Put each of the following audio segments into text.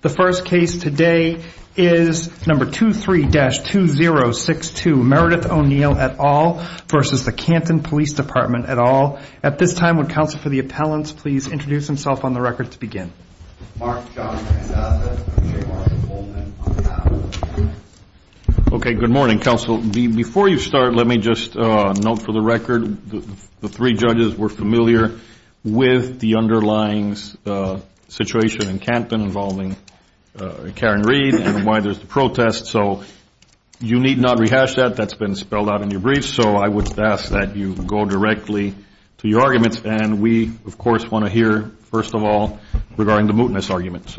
The first case today is number 23-2062, Meredith O'Neil et al. v. the Canton Police Department et al. At this time, would counsel for the appellants please introduce themselves on the record to begin? Mark John McIsaac, and Shane Martin Coleman, on the panel. Okay, good morning, counsel. Before you start, let me just note for the record that the three judges were familiar with the underlying situation in Canton involving Karen Reed and why there's the protest, so you need not rehash that. That's been spelled out in your brief, so I would ask that you go directly to your arguments. And we, of course, want to hear, first of all, regarding the mootness argument.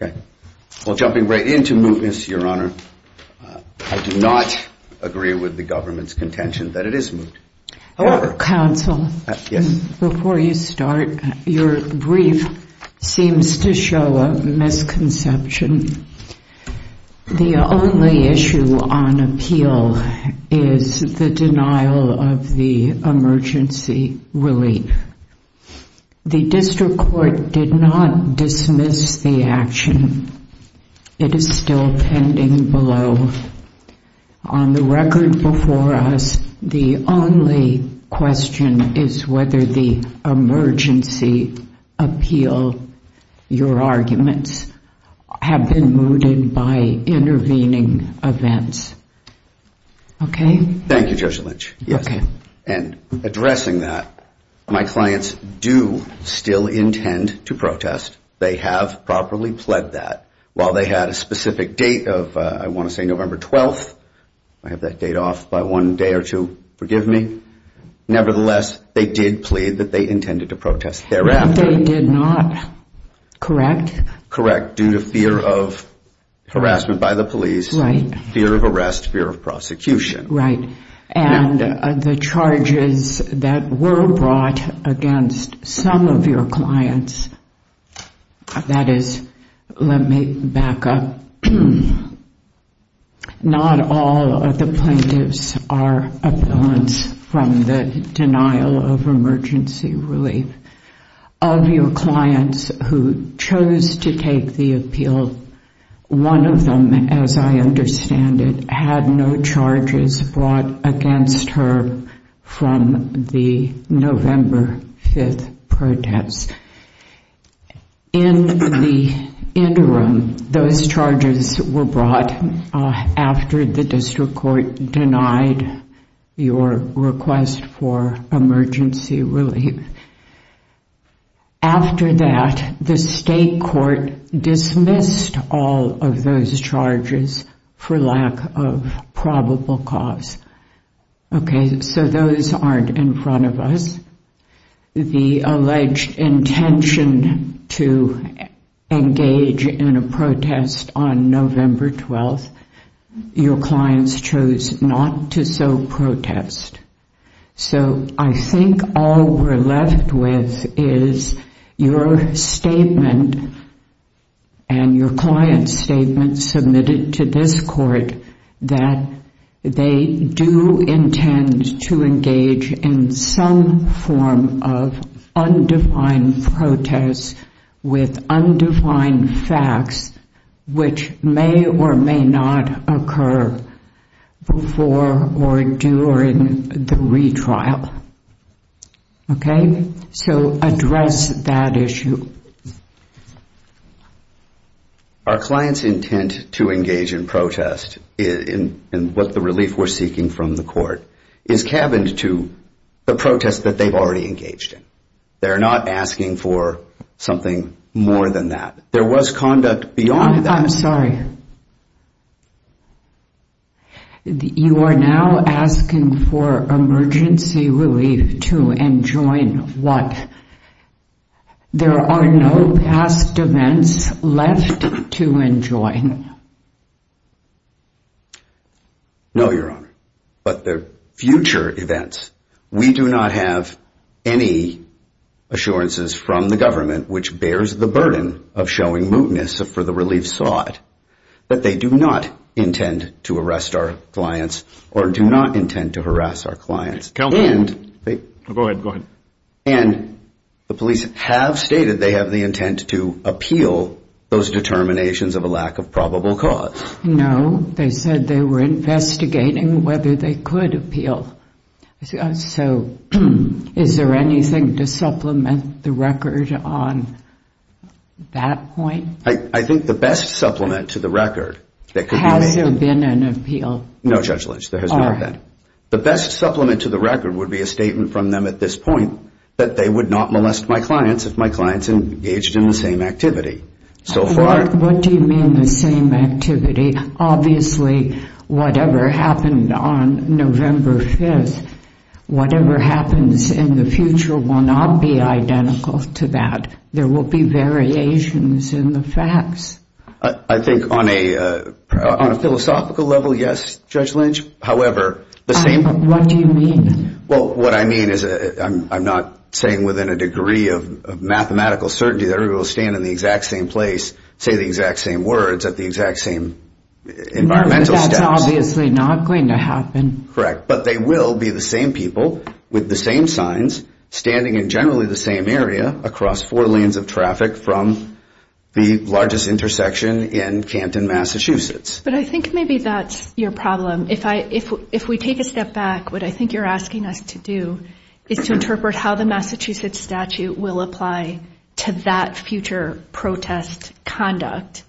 Okay. Well, jumping right into mootness, Your Honor, I do not agree with the government's contention that it is moot. Counsel, before you start, your brief seems to show a misconception. The only issue on appeal is the denial of the emergency relief. The district court did not dismiss the action. It is still pending below. On the record before us, the only question is whether the emergency appeal, your arguments, have been mooted by intervening events. Okay? Thank you, Judge Lynch. Okay. And addressing that, my clients do still intend to protest. They have properly pled that. While they had a specific date of, I want to say, November 12th, I have that date off by one day or two. Forgive me. Nevertheless, they did plead that they intended to protest thereafter. They did not. Correct? Due to fear of harassment by the police, fear of arrest, fear of prosecution. Right. And the charges that were brought against some of your clients, that is, let me back up. Not all of the plaintiffs are abetting from the denial of emergency relief. Of your clients who chose to take the appeal, one of them, as I understand it, had no charges brought against her from the November 5th protest. In the interim, those charges were brought after the district court denied your request for emergency relief. After that, the state court dismissed all of those charges for lack of probable cause. Okay? So those aren't in front of us. The alleged intention to engage in a protest on November 12th, your clients chose not to so protest. So I think all we're left with is your statement and your client's statement submitted to this court that they do intend to engage in some form of undefined protest with undefined facts, which may or may not occur before or during the retrial. Okay? So address that issue. Our client's intent to engage in protest and what the relief we're seeking from the court is cabined to the protest that they've already engaged in. They're not asking for something more than that. There was conduct beyond that. I'm sorry. You are now asking for emergency relief to enjoin what? There are no past events left to enjoin. No, your honor. But the future events, we do not have any assurances from the government which bears the burden of showing mootness for the relief sought that they do not intend to arrest our clients or do not intend to harass our clients. Go ahead. And the police have stated they have the intent to appeal those determinations of a lack of probable cause. They said they were investigating whether they could appeal. So is there anything to supplement the record on that point? I think the best supplement to the record that could be made... Has there been an appeal? No, Judge Lynch. There has not been. The best supplement to the record would be a statement from them at this point that they would not molest my clients if my clients engaged in the same activity. So far... What do you mean the same activity? Obviously, whatever happened on November 5th, whatever happens in the future will not be identical to that. There will be variations in the facts. I think on a philosophical level, yes, Judge Lynch. What do you mean? What I mean is I'm not saying within a degree of mathematical certainty that everyone will stand in the exact same place, say the exact same words at the exact same environmental steps. That's obviously not going to happen. Correct. But they will be the same people with the same signs, standing in generally the same area across four lanes of traffic from the largest intersection in Canton, Massachusetts. But I think maybe that's your problem. If we take a step back, what I think you're asking us to do is to interpret how the Massachusetts statute will apply to that future protest conduct.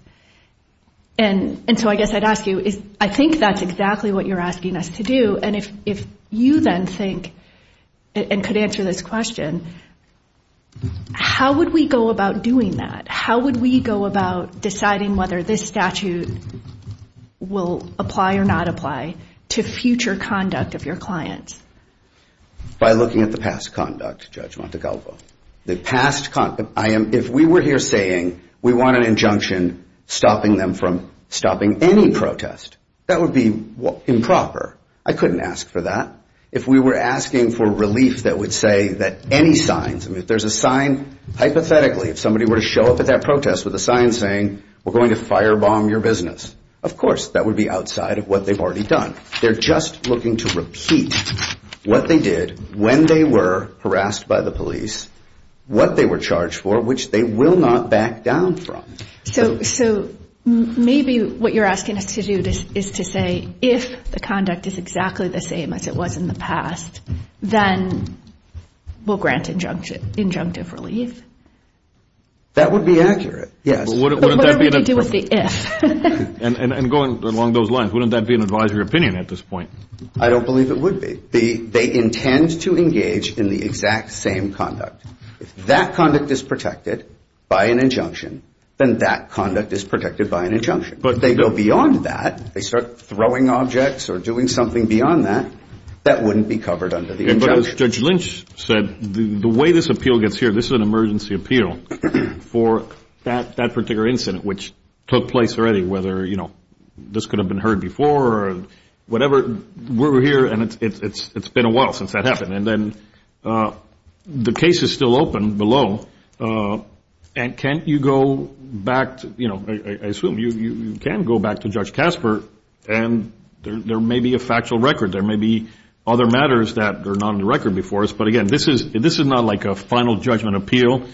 And so I guess I'd ask you, I think that's exactly what you're asking us to do. And if you then think and could answer this question, how would we go about doing that? How would we go about deciding whether this statute will apply or not apply to future conduct of your clients? By looking at the past conduct, Judge Montecalvo. The past conduct. If we were here saying we want an injunction stopping them from stopping any protest, that would be improper. I couldn't ask for that. If we were asking for relief that would say that any signs, if there's a sign, hypothetically, if somebody were to show up at that protest with a sign saying we're going to firebomb your business, of course that would be outside of what they've already done. They're just looking to repeat what they did when they were harassed by the police, what they were charged for, which they will not back down from. So maybe what you're asking us to do is to say if the conduct is exactly the same as it was in the past, then we'll grant injunctive relief. That would be accurate, yes. But what do we do with the if? And going along those lines, wouldn't that be an advisory opinion at this point? I don't believe it would be. They intend to engage in the exact same conduct. If that conduct is protected by an injunction, then that conduct is protected by an injunction. But they go beyond that. They start throwing objects or doing something beyond that that wouldn't be covered under the injunction. But as Judge Lynch said, the way this appeal gets here, this is an emergency appeal for that particular incident, which took place already, whether this could have been heard before or whatever, we're here and it's been a while since that happened. And then the case is still open below, and can't you go back to, I assume you can go back to Judge Casper, and there may be a factual record, there may be other matters that are not on the record before us. But, again, this is not like a final judgment appeal.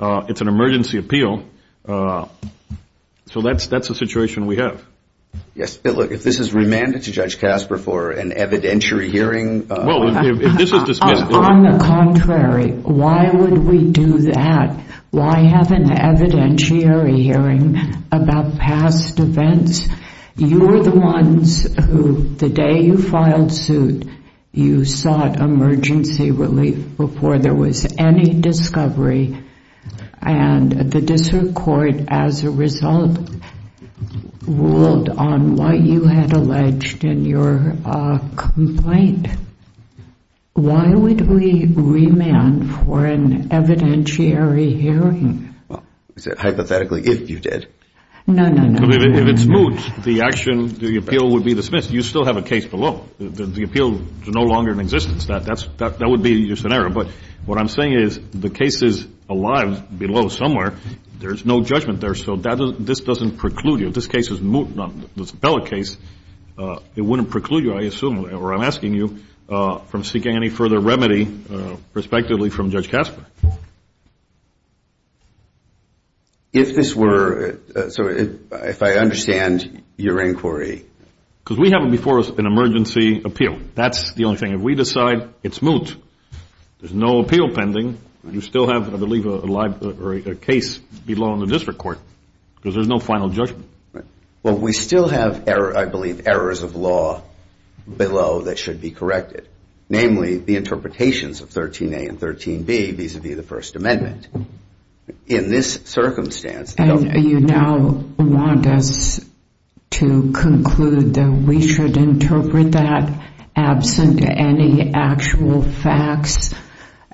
It's an emergency appeal. So that's the situation we have. Yes. If this is remanded to Judge Casper for an evidentiary hearing. Well, if this is dismissed. On the contrary, why would we do that? Why have an evidentiary hearing about past events? You were the ones who, the day you filed suit, you sought emergency relief before there was any discovery, and the district court, as a result, ruled on what you had alleged in your complaint. Why would we remand for an evidentiary hearing? Hypothetically, if you did. No, no, no. If it's moot, the action, the appeal would be dismissed. You still have a case below. The appeal is no longer in existence. That would be your scenario. But what I'm saying is the case is alive below somewhere. There's no judgment there. So this doesn't preclude you. If this case is moot, this appellate case, it wouldn't preclude you, I assume, or I'm asking you, from seeking any further remedy, respectively, from Judge Casper. If this were, so if I understand your inquiry. Because we have before us an emergency appeal. That's the only thing. If we decide it's moot, there's no appeal pending, you still have, I believe, a case below in the district court because there's no final judgment. Right. Well, we still have, I believe, errors of law below that should be corrected, namely the interpretations of 13A and 13B vis-à-vis the First Amendment. In this circumstance. You now want us to conclude that we should interpret that absent any actual facts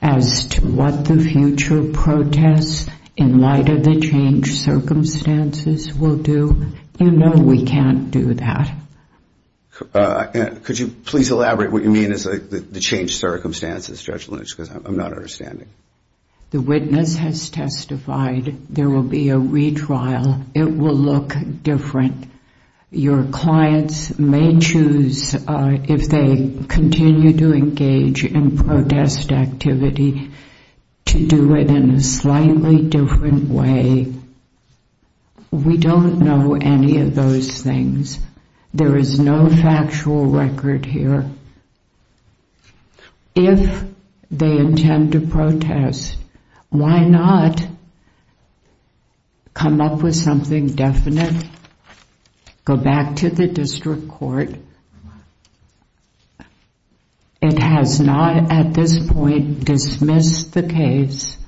as to what the future protests in light of the changed circumstances will do? You know we can't do that. Could you please elaborate what you mean is the changed circumstances, Judge Lynch, because I'm not understanding. The witness has testified there will be a retrial. It will look different. Your clients may choose, if they continue to engage in protest activity, to do it in a slightly different way. We don't know any of those things. There is no factual record here. If they intend to protest, why not come up with something definite, go back to the district court. It has not at this point dismissed the case.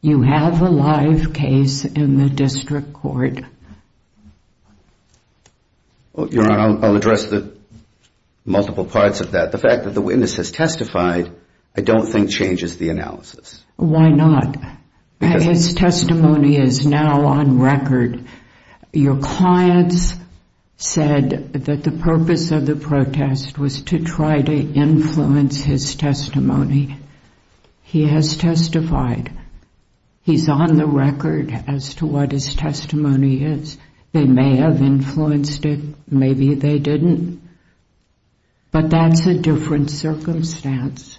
You have a live case in the district court. Your Honor, I'll address the multiple parts of that. The fact that the witness has testified I don't think changes the analysis. Why not? His testimony is now on record. Your clients said that the purpose of the protest was to try to influence his testimony. He has testified. He's on the record as to what his testimony is. They may have influenced it. Maybe they didn't. But that's a different circumstance.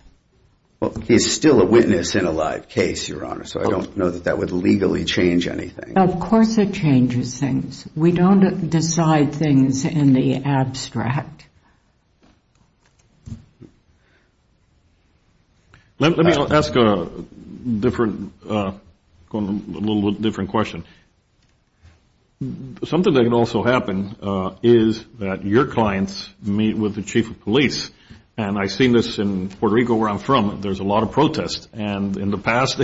He's still a witness in a live case, Your Honor, so I don't know that that would legally change anything. Of course it changes things. We don't decide things in the abstract. Let me ask a little different question. Something that can also happen is that your clients meet with the chief of police, and I've seen this in Puerto Rico where I'm from. There's a lot of protest, and in the past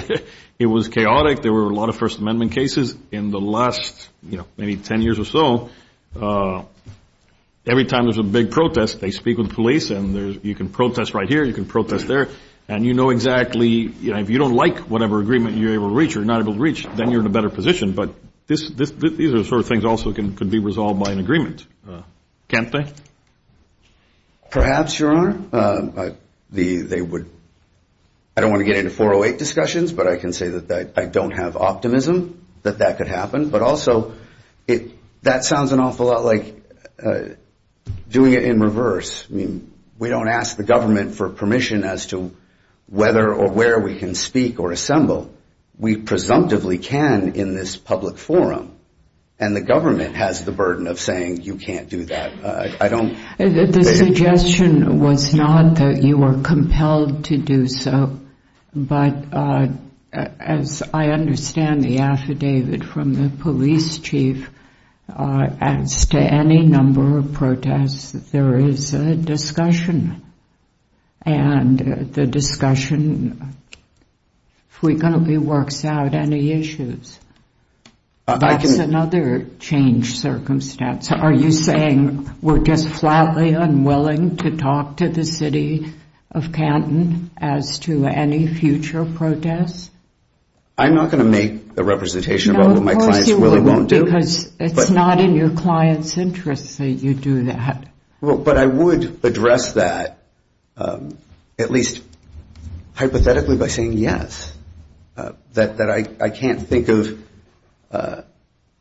it was chaotic. There were a lot of First Amendment cases. In the last, you know, maybe 10 years or so, every time there's a big protest, they speak with police, and you can protest right here, you can protest there, and you know exactly if you don't like whatever agreement you're able to reach or not able to reach, then you're in a better position. But these are the sort of things that also could be resolved by an agreement, can't they? Perhaps, Your Honor. I don't want to get into 408 discussions, but I can say that I don't have optimism that that could happen, but also that sounds an awful lot like doing it in reverse. I mean, we don't ask the government for permission as to whether or where we can speak or assemble. We presumptively can in this public forum, and the government has the burden of saying you can't do that. The suggestion was not that you were compelled to do so, but as I understand the affidavit from the police chief, as to any number of protests, there is a discussion, and the discussion frequently works out any issues. That's another change circumstance. Are you saying we're just flatly unwilling to talk to the city of Canton as to any future protests? I'm not going to make a representation about what my clients really won't do. No, of course you won't, because it's not in your clients' interest that you do that. But I would address that at least hypothetically by saying yes, that I can't think of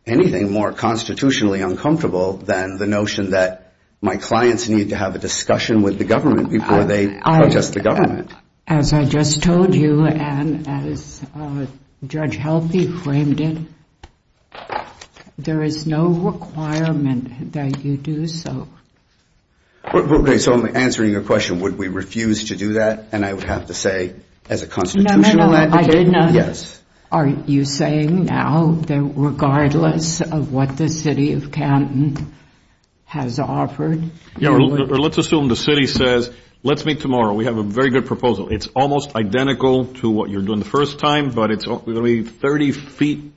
anything more constitutionally uncomfortable than the notion that my clients need to have a discussion with the government before they protest the government. As I just told you, and as Judge Healthy framed it, there is no requirement that you do so. Okay, so I'm answering your question, would we refuse to do that? And I would have to say, as a constitutional advocate, yes. Are you saying now that regardless of what the city of Canton has offered? Let's assume the city says, let's meet tomorrow. We have a very good proposal. It's almost identical to what you're doing the first time, but it's going to be 30 feet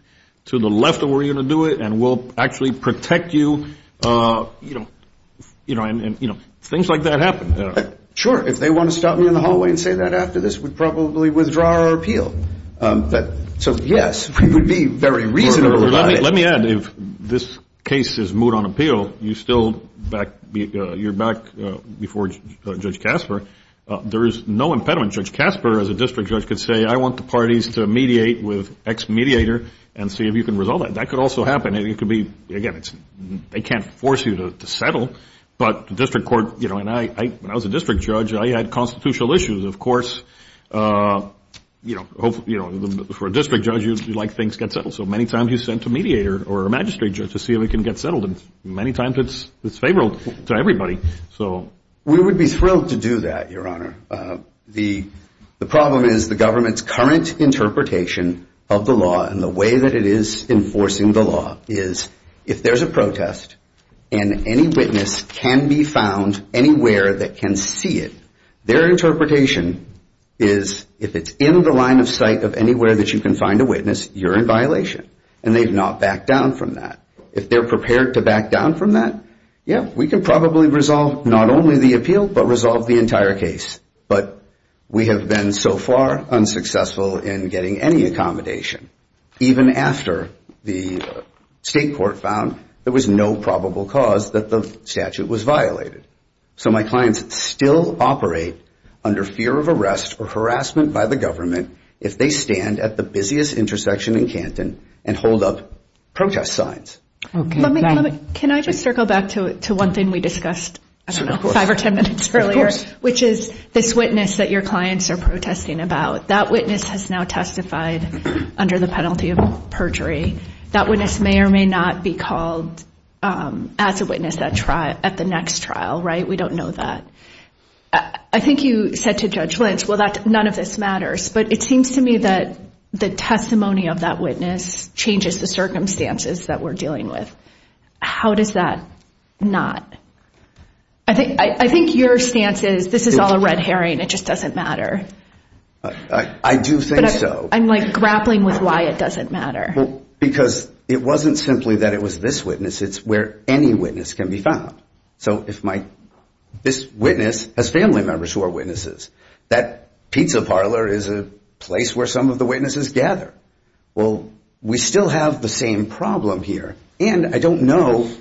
to the left of where you're going to do it, and we'll actually protect you, and things like that happen. Sure, if they want to stop me in the hallway and say that after this, we'd probably withdraw our appeal. So, yes, we would be very reasonable about it. Let me add, if this case is moved on appeal, you're back before Judge Casper. There is no impediment. Judge Casper, as a district judge, could say, I want the parties to mediate with X mediator and see if you can resolve that. That could also happen. It could be, again, they can't force you to settle, but the district court, and when I was a district judge, I had constitutional issues. Of course, for a district judge, you'd like things to get settled, so many times you sent a mediator or a magistrate judge to see if it can get settled, and many times it's favorable to everybody. We would be thrilled to do that, Your Honor. The problem is the government's current interpretation of the law and the way that it is enforcing the law is if there's a protest and any witness can be found anywhere that can see it, their interpretation is if it's in the line of sight of anywhere that you can find a witness, you're in violation, and they've not backed down from that. If they're prepared to back down from that, yeah, we can probably resolve not only the appeal, but resolve the entire case. But we have been so far unsuccessful in getting any accommodation, even after the state court found there was no probable cause that the statute was violated. So my clients still operate under fear of arrest or harassment by the government if they stand at the busiest intersection in Canton and hold up protest signs. Can I just circle back to one thing we discussed 5 or 10 minutes earlier, which is this witness that your clients are protesting about. That witness has now testified under the penalty of perjury. That witness may or may not be called as a witness at the next trial, right? We don't know that. I think you said to Judge Lynch, well, none of this matters, but it seems to me that the testimony of that witness changes the circumstances that we're dealing with. How does that not? I think your stance is this is all a red herring. It just doesn't matter. I do think so. I'm grappling with why it doesn't matter. Because it wasn't simply that it was this witness. It's where any witness can be found. So if this witness has family members who are witnesses, that pizza parlor is a place where some of the witnesses gather. Well, we still have the same problem here. And I don't know,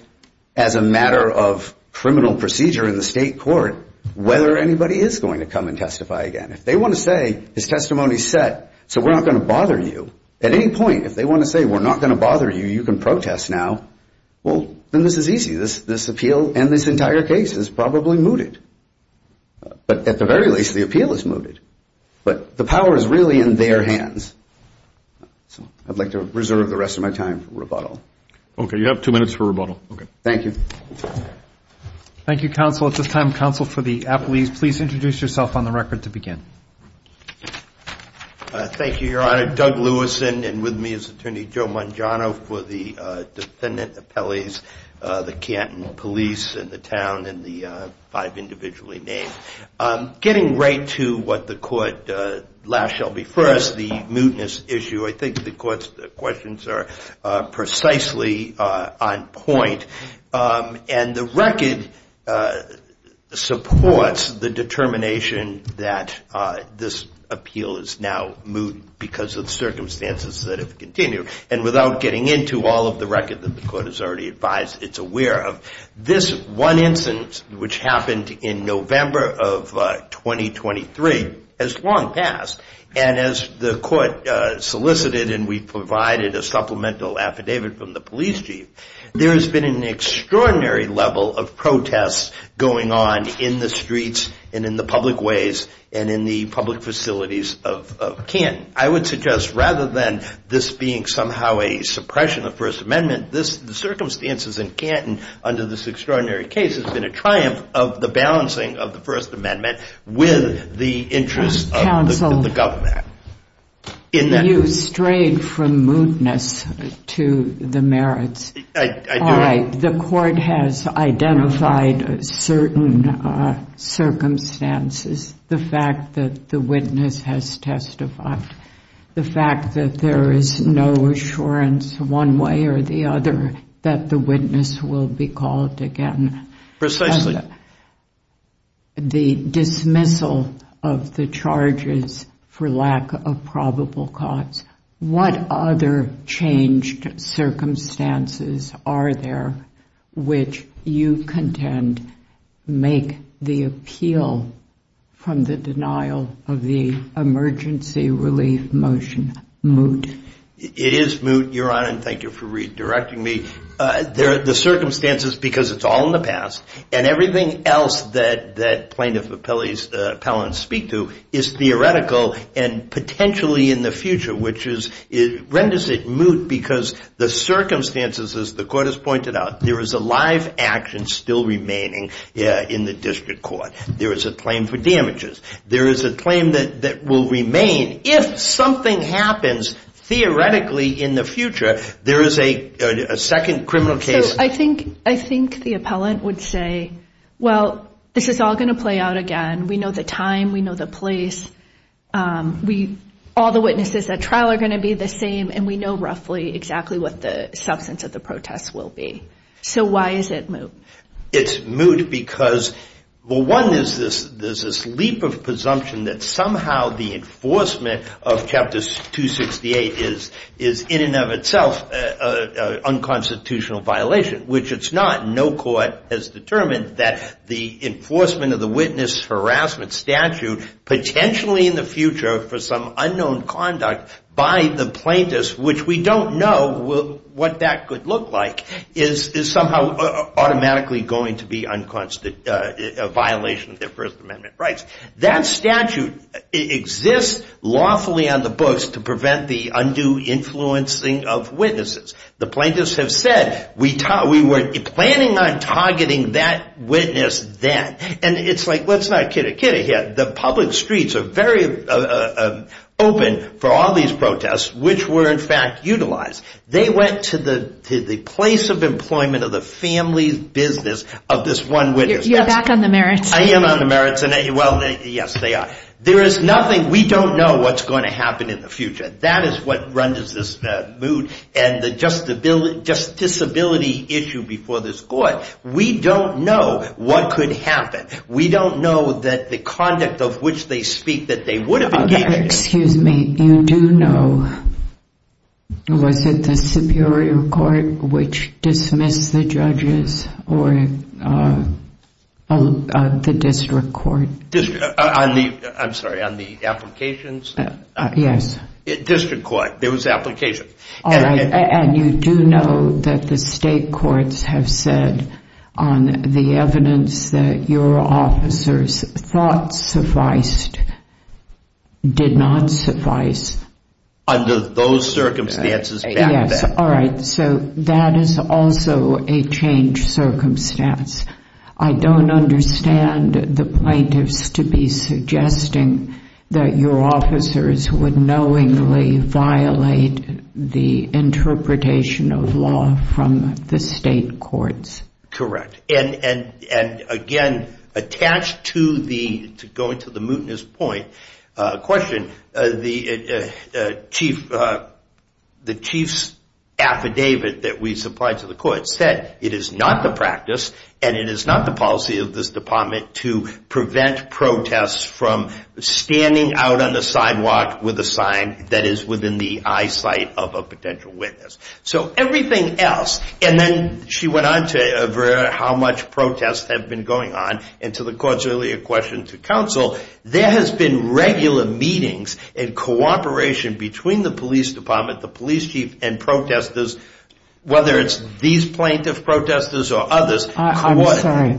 as a matter of criminal procedure in the state court, whether anybody is going to come and testify again. If they want to say his testimony is set so we're not going to bother you, at any point if they want to say we're not going to bother you, you can protest now, well, then this is easy. This appeal and this entire case is probably mooted. But at the very least, the appeal is mooted. But the power is really in their hands. So I'd like to reserve the rest of my time for rebuttal. Okay. You have two minutes for rebuttal. Okay. Thank you. Thank you, counsel. At this time, counsel, for the appellees, please introduce yourself on the record to begin. Thank you, Your Honor. Doug Lewis and with me is Attorney Joe Mangiano for the defendant appellees, the Canton police and the town and the five individually named. Getting right to what the court last shall be first, the mootness issue, I think the court's questions are precisely on point. And the record supports the determination that this appeal is now moot because of the circumstances that have continued. And without getting into all of the record that the court has already advised it's aware of, this one instance, which happened in November of 2023, has long passed. And as the court solicited and we provided a supplemental affidavit from the police chief, there has been an extraordinary level of protests going on in the streets and in the public ways and in the public facilities of Canton. I would suggest rather than this being somehow a suppression of First Amendment, the circumstances in Canton under this extraordinary case has been a triumph of the balancing of the First Amendment with the interest of the government. You strayed from mootness to the merits. I do. All right. The court has identified certain circumstances. The fact that the witness has testified. The fact that there is no assurance one way or the other that the witness will be called again. Precisely. The dismissal of the charges for lack of probable cause. What other changed circumstances are there which you contend make the appeal from the denial of the emergency relief motion moot? It is moot, Your Honor, and thank you for redirecting me. The circumstances, because it's all in the past, and everything else that plaintiff appellants speak to is theoretical and potentially in the future, which renders it moot because the circumstances, as the court has pointed out, there is a live action still remaining in the district court. There is a claim for damages. There is a claim that will remain if something happens theoretically in the future. There is a second criminal case. I think the appellant would say, well, this is all going to play out again. We know the time. We know the place. All the witnesses at trial are going to be the same, and we know roughly exactly what the substance of the protest will be. So why is it moot? It's moot because, well, one, there's this leap of presumption that somehow the enforcement of Chapter 268 is, in and of itself, an unconstitutional violation, which it's not. No court has determined that the enforcement of the witness harassment statute, potentially in the future for some unknown conduct by the plaintiffs, which we don't know what that could look like, is somehow automatically going to be a violation of their First Amendment rights. That statute exists lawfully on the books to prevent the undue influencing of witnesses. The plaintiffs have said, we were planning on targeting that witness then. And it's like, let's not kid a kid here. The public streets are very open for all these protests, which were, in fact, utilized. They went to the place of employment of the family business of this one witness. You're back on the merits. I am on the merits. Well, yes, they are. There is nothing. We don't know what's going to happen in the future. That is what renders this moot and the just disability issue before this court. We don't know what could happen. We don't know that the conduct of which they speak that they would have engaged in. Excuse me. You do know, was it the Superior Court which dismissed the judges or the district court? I'm sorry, on the applications? Yes. District court. There was application. All right. And you do know that the state courts have said on the evidence that your officers thought sufficed did not suffice? Under those circumstances. Yes. All right. So that is also a changed circumstance. I don't understand the plaintiffs to be suggesting that your officers would knowingly violate the interpretation of law from the state courts. And again, attached to going to the mootness point question, the chief's affidavit that we supplied to the court said it is not the practice and it is not the policy of this department to prevent protests from standing out on the sidewalk with a sign that is within the eyesight of a potential witness. So everything else. And then she went on to how much protests have been going on and to the court's earlier question to counsel, there has been regular meetings and cooperation between the police department, the police chief, and protesters, whether it's these plaintiff protesters or others. I'm sorry.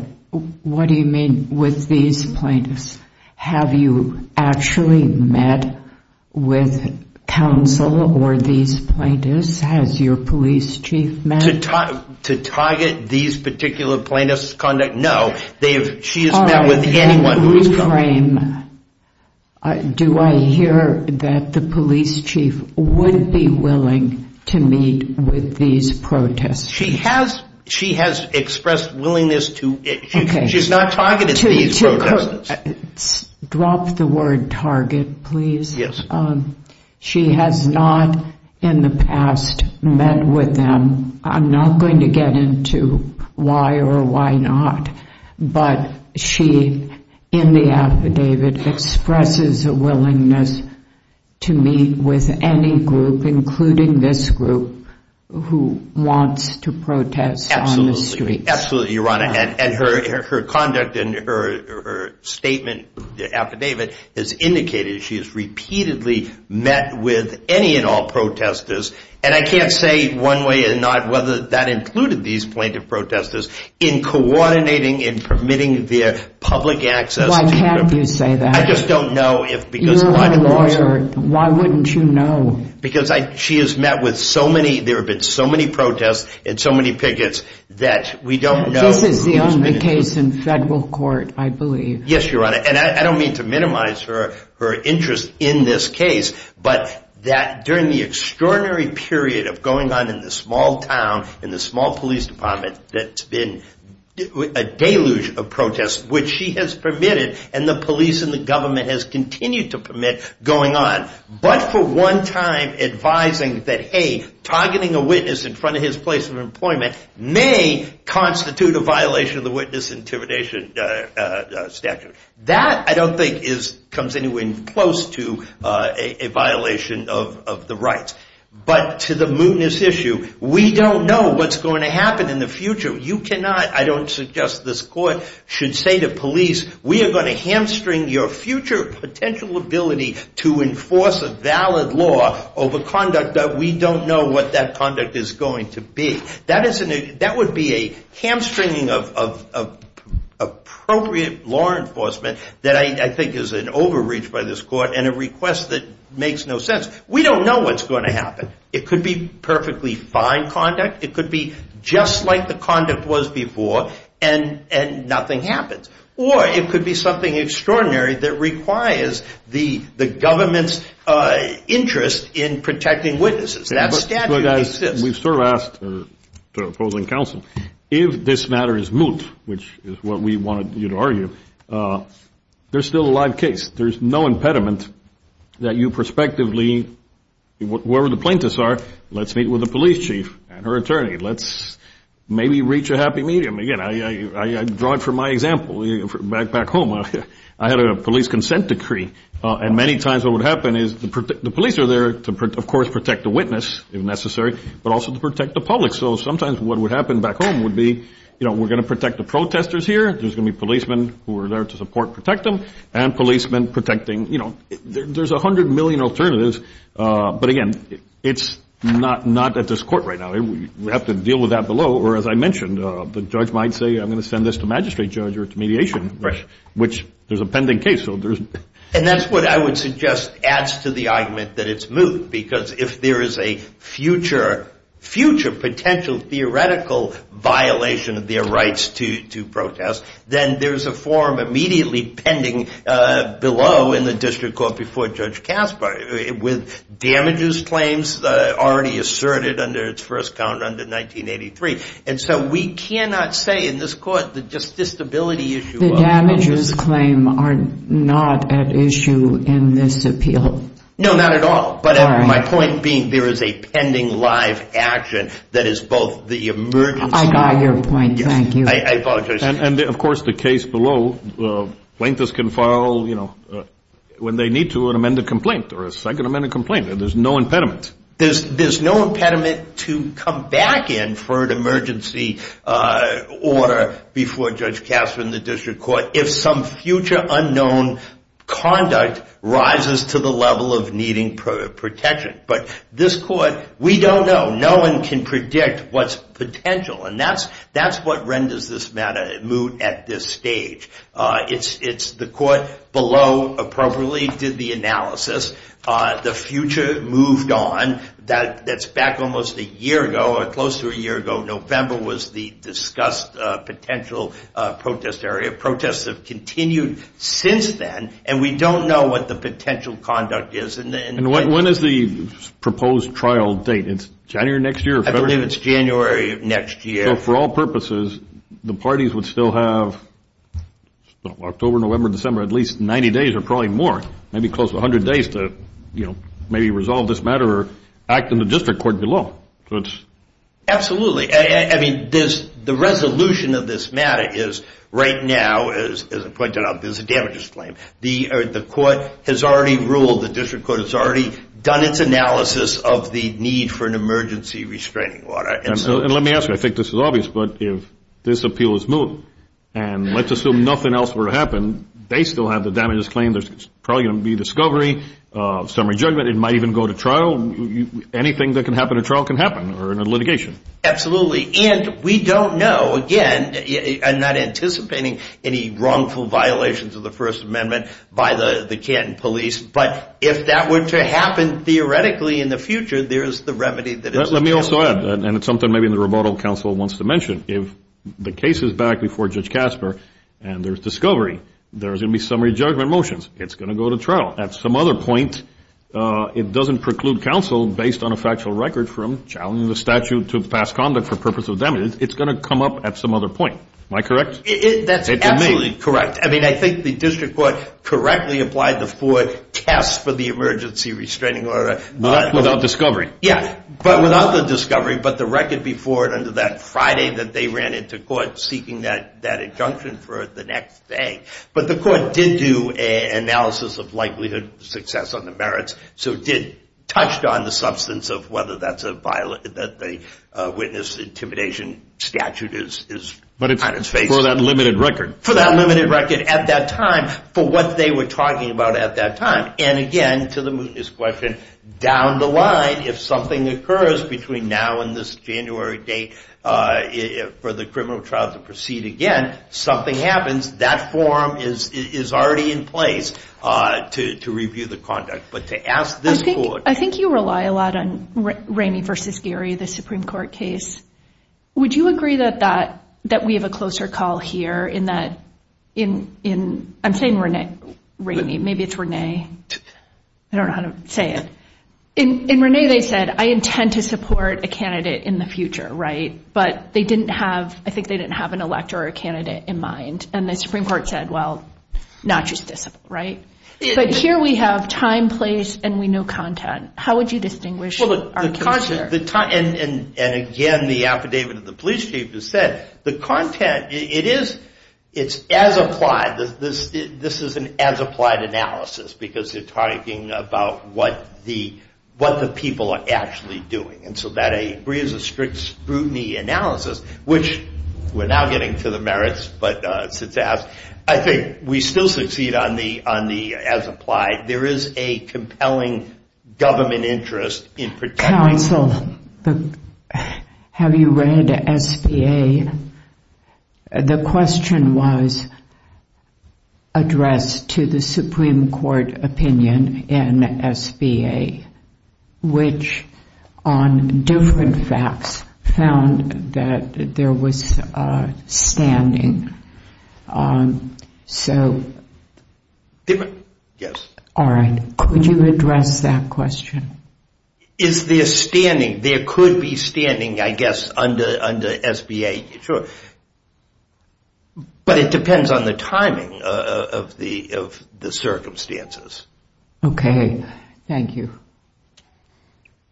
What do you mean with these plaintiffs? Have you actually met with counsel or these plaintiffs? Has your police chief met? To target these particular plaintiffs' conduct? No. She has met with anyone who is coming. All right. Then reframe. Do I hear that the police chief would be willing to meet with these protesters? She has expressed willingness to. Okay. She's not targeting these protesters. Drop the word target, please. Yes. She has not in the past met with them. I'm not going to get into why or why not, but she, in the affidavit, expresses a willingness to meet with any group, including this group, who wants to protest on the streets. Absolutely. Your Honor, and her conduct and her statement, the affidavit, has indicated she has repeatedly met with any and all protesters, and I can't say one way or another whether that included these plaintiff protesters, in coordinating and permitting their public access. Why can't you say that? I just don't know. You're a lawyer. Why wouldn't you know? Because she has met with so many. There have been so many protests and so many pickets that we don't know. This is the only case in federal court, I believe. Yes, Your Honor, and I don't mean to minimize her interest in this case, but that during the extraordinary period of going on in this small town, in this small police department, that's been a deluge of protests, which she has permitted and the police and the government has continued to permit going on, but for one time advising that, hey, targeting a witness in front of his place of employment may constitute a violation of the witness intimidation statute. That, I don't think, comes anywhere close to a violation of the rights. But to the mootness issue, we don't know what's going to happen in the future. You cannot, I don't suggest this court should say to police, we are going to hamstring your future potential ability to enforce a valid law over conduct that we don't know what that conduct is going to be. That would be a hamstringing of appropriate law enforcement that I think is an overreach by this court and a request that makes no sense. We don't know what's going to happen. It could be perfectly fine conduct. It could be just like the conduct was before and nothing happens. Or it could be something extraordinary that requires the government's interest in protecting witnesses. That statute exists. We've sort of asked the opposing counsel, if this matter is moot, which is what we wanted you to argue, there's still a live case. There's no impediment that you prospectively, whoever the plaintiffs are, let's meet with the police chief and her attorney. Let's maybe reach a happy medium. Again, I draw it from my example. Back home, I had a police consent decree. And many times what would happen is the police are there to, of course, protect the witness if necessary, but also to protect the public. So sometimes what would happen back home would be, you know, we're going to protect the protesters here. There's going to be policemen who are there to support, protect them, and policemen protecting, you know. There's 100 million alternatives. But, again, it's not at this court right now. We have to deal with that below. Or, as I mentioned, the judge might say, I'm going to send this to magistrate judge or to mediation, which there's a pending case. And that's what I would suggest adds to the argument that it's moot, because if there is a future potential theoretical violation of their rights to protest, then there's a form immediately pending below in the district court before Judge Casper with damages claims already asserted under its first count under 1983. And so we cannot say in this court that just this stability issue. The damages claim are not at issue in this appeal. No, not at all. But my point being there is a pending live action that is both the emergency. I got your point. Thank you. I apologize. And, of course, the case below, plaintiffs can file, you know, when they need to, an amended complaint or a second amended complaint. There's no impediment. There's no impediment to come back in for an emergency order before Judge Casper in the district court if some future unknown conduct rises to the level of needing protection. But this court, we don't know. No one can predict what's potential. And that's what renders this matter moot at this stage. It's the court below appropriately did the analysis. The future moved on. That's back almost a year ago or close to a year ago. November was the discussed potential protest area. Protests have continued since then, and we don't know what the potential conduct is. And when is the proposed trial date? It's January next year? I believe it's January of next year. So for all purposes, the parties would still have October, November, December, at least 90 days or probably more, maybe close to 100 days to, you know, maybe resolve this matter or act in the district court below. Absolutely. I mean, the resolution of this matter is right now, as I pointed out, there's a damages claim. The court has already ruled, the district court has already done its analysis of the need for an emergency restraining order. And let me ask you, I think this is obvious, but if this appeal is moved and let's assume nothing else were to happen, they still have the damages claim. There's probably going to be discovery of some rejuvenate. It might even go to trial. Anything that can happen at trial can happen or in a litigation. And we don't know, again, I'm not anticipating any wrongful violations of the First Amendment by the Canton police, but if that were to happen theoretically in the future, there is the remedy that is available. Let me also add, and it's something maybe the rebuttal counsel wants to mention, if the case is back before Judge Kasper and there's discovery, there's going to be summary judgment motions. It's going to go to trial. At some other point, it doesn't preclude counsel based on a factual record from challenging the statute to pass conduct for purpose of damages. It's going to come up at some other point. Am I correct? That's absolutely correct. I mean, I think the district court correctly applied the Ford test for the emergency restraining order. Without discovery. Yeah, but without the discovery. But the record before and under that Friday that they ran into court seeking that injunction for the next day. But the court did do an analysis of likelihood success on the merits, so it did touch on the substance of whether that's a violation that the witness intimidation statute is kind of facing. But it's for that limited record. For that limited record at that time for what they were talking about at that time. And, again, to the mootness question, down the line, if something occurs between now and this January date for the criminal trial to proceed again, something happens. That forum is already in place to review the conduct. But to ask this court. I think you rely a lot on Ramey versus Gary, the Supreme Court case. Would you agree that we have a closer call here in that – I'm saying Ramey. Maybe it's Ramey. I don't know how to say it. In Ramey they said, I intend to support a candidate in the future, right? But they didn't have – I think they didn't have an elector or a candidate in mind. And the Supreme Court said, well, not just this, right? But here we have time, place, and we know content. How would you distinguish our character? And, again, the affidavit of the police chief has said, the content, it's as applied. This is an as-applied analysis because they're talking about what the people are actually doing. And so that agrees with strict scrutiny analysis, which we're now getting to the merits. But I think we still succeed on the as-applied. There is a compelling government interest in particular. Counsel, have you read SBA? The question was addressed to the Supreme Court opinion in SBA, which on different facts found that there was standing. So – Yes. All right. Could you address that question? Is there standing? There could be standing, I guess, under SBA. Sure. But it depends on the timing of the circumstances. Okay. Thank you.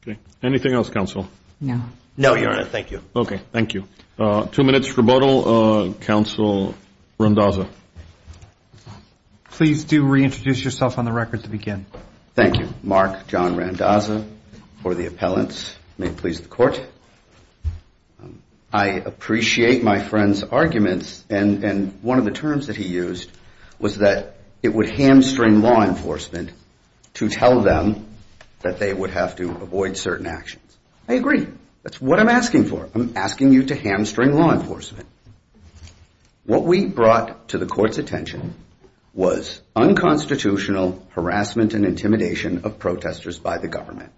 Okay. Anything else, Counsel? No. No, Your Honor. Thank you. Okay. Thank you. Two minutes rebuttal. Counsel Randazza. Please do reintroduce yourself on the record to begin. Thank you. Mark John Randazza for the appellants. May it please the Court. I appreciate my friend's arguments. And one of the terms that he used was that it would hamstring law enforcement to tell them that they would have to avoid certain actions. I agree. That's what I'm asking for. I'm asking you to hamstring law enforcement. What we brought to the Court's attention was unconstitutional harassment and intimidation of protesters by the government.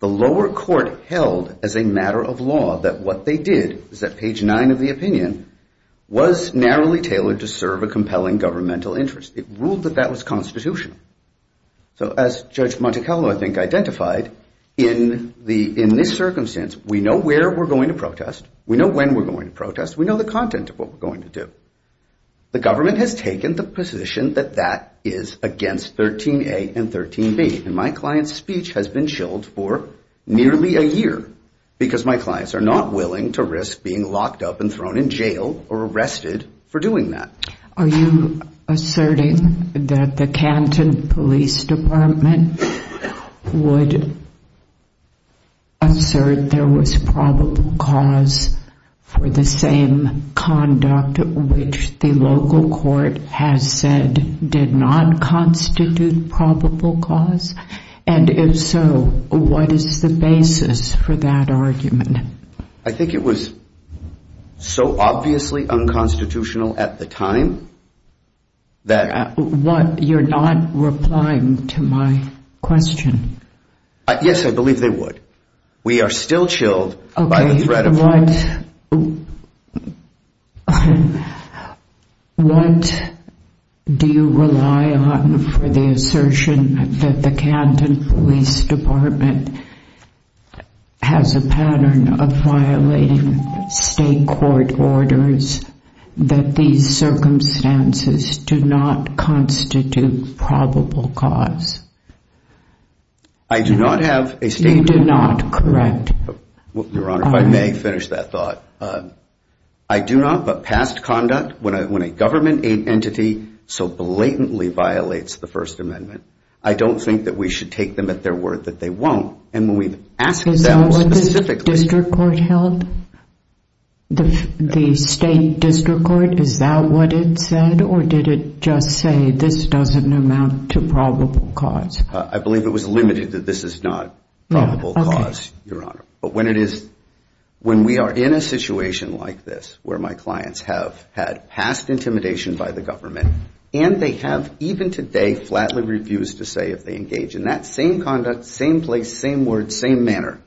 The lower court held as a matter of law that what they did was that page nine of the opinion was narrowly tailored to serve a compelling governmental interest. It ruled that that was constitutional. So as Judge Monticello, I think, identified, in this circumstance, we know where we're going to protest. We know when we're going to protest. We know the content of what we're going to do. The government has taken the position that that is against 13A and 13B. And my client's speech has been chilled for nearly a year because my clients are not willing to risk being locked up and thrown in jail or arrested for doing that. Are you asserting that the Canton Police Department would assert there was probable cause for the same conduct which the local court has said did not constitute probable cause? And if so, what is the basis for that argument? I think it was so obviously unconstitutional at the time that... You're not replying to my question. Yes, I believe they would. We are still chilled by the threat of... What do you rely on for the assertion that the Canton Police Department has a pattern of violating state court orders that these circumstances do not constitute probable cause? I do not have a state... You do not, correct? Your Honor, if I may finish that thought. I do not, but past conduct, when a government aid entity so blatantly violates the First Amendment, I don't think that we should take them at their word that they won't. And when we've asked them specifically... Is that what the district court held? The state district court, is that what it said or did it just say this doesn't amount to probable cause? I believe it was limited that this is not probable cause, Your Honor. But when it is... When we are in a situation like this where my clients have had past intimidation by the government and they have even today flatly refused to say if they engage in that same conduct, same place, same word, same manner,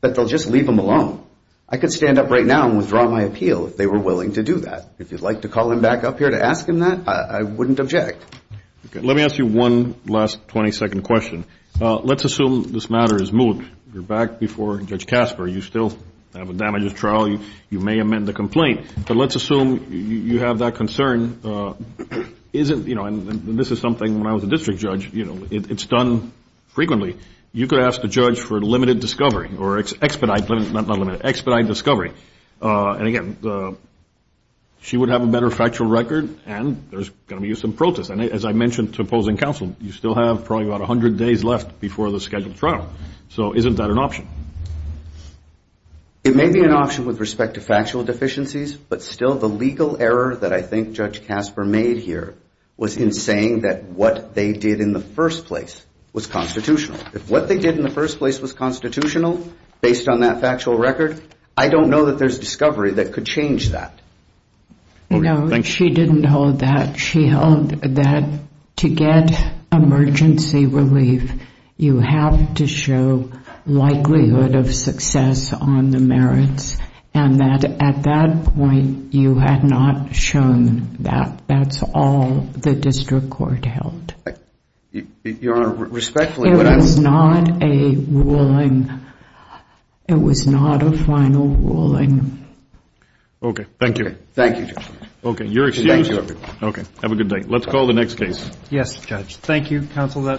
that they'll just leave them alone. I could stand up right now and withdraw my appeal if they were willing to do that. If you'd like to call them back up here to ask them that, I wouldn't object. Let me ask you one last 20-second question. Let's assume this matter is moved. You're back before Judge Casper. You still have a damages trial. You may amend the complaint. But let's assume you have that concern. Isn't, you know, and this is something when I was a district judge, you know, it's done frequently. You could ask the judge for limited discovery or expedite, not limited, expedite discovery. And again, she would have a better factual record and there's going to be some protest. And as I mentioned to opposing counsel, you still have probably about 100 days left before the scheduled trial. So isn't that an option? It may be an option with respect to factual deficiencies, but still the legal error that I think Judge Casper made here was in saying that what they did in the first place was constitutional. If what they did in the first place was constitutional based on that factual record, I don't know that there's discovery that could change that. No, she didn't hold that. She held that to get emergency relief, you have to show likelihood of success on the merits and that at that point, you had not shown that. That's all the district court held. Your Honor, respectfully. It was not a ruling. It was not a final ruling. Okay, thank you. Thank you, Judge. Okay, your exchange. Okay, have a good day. Let's call the next case. Yes, Judge. Thank you, counsel.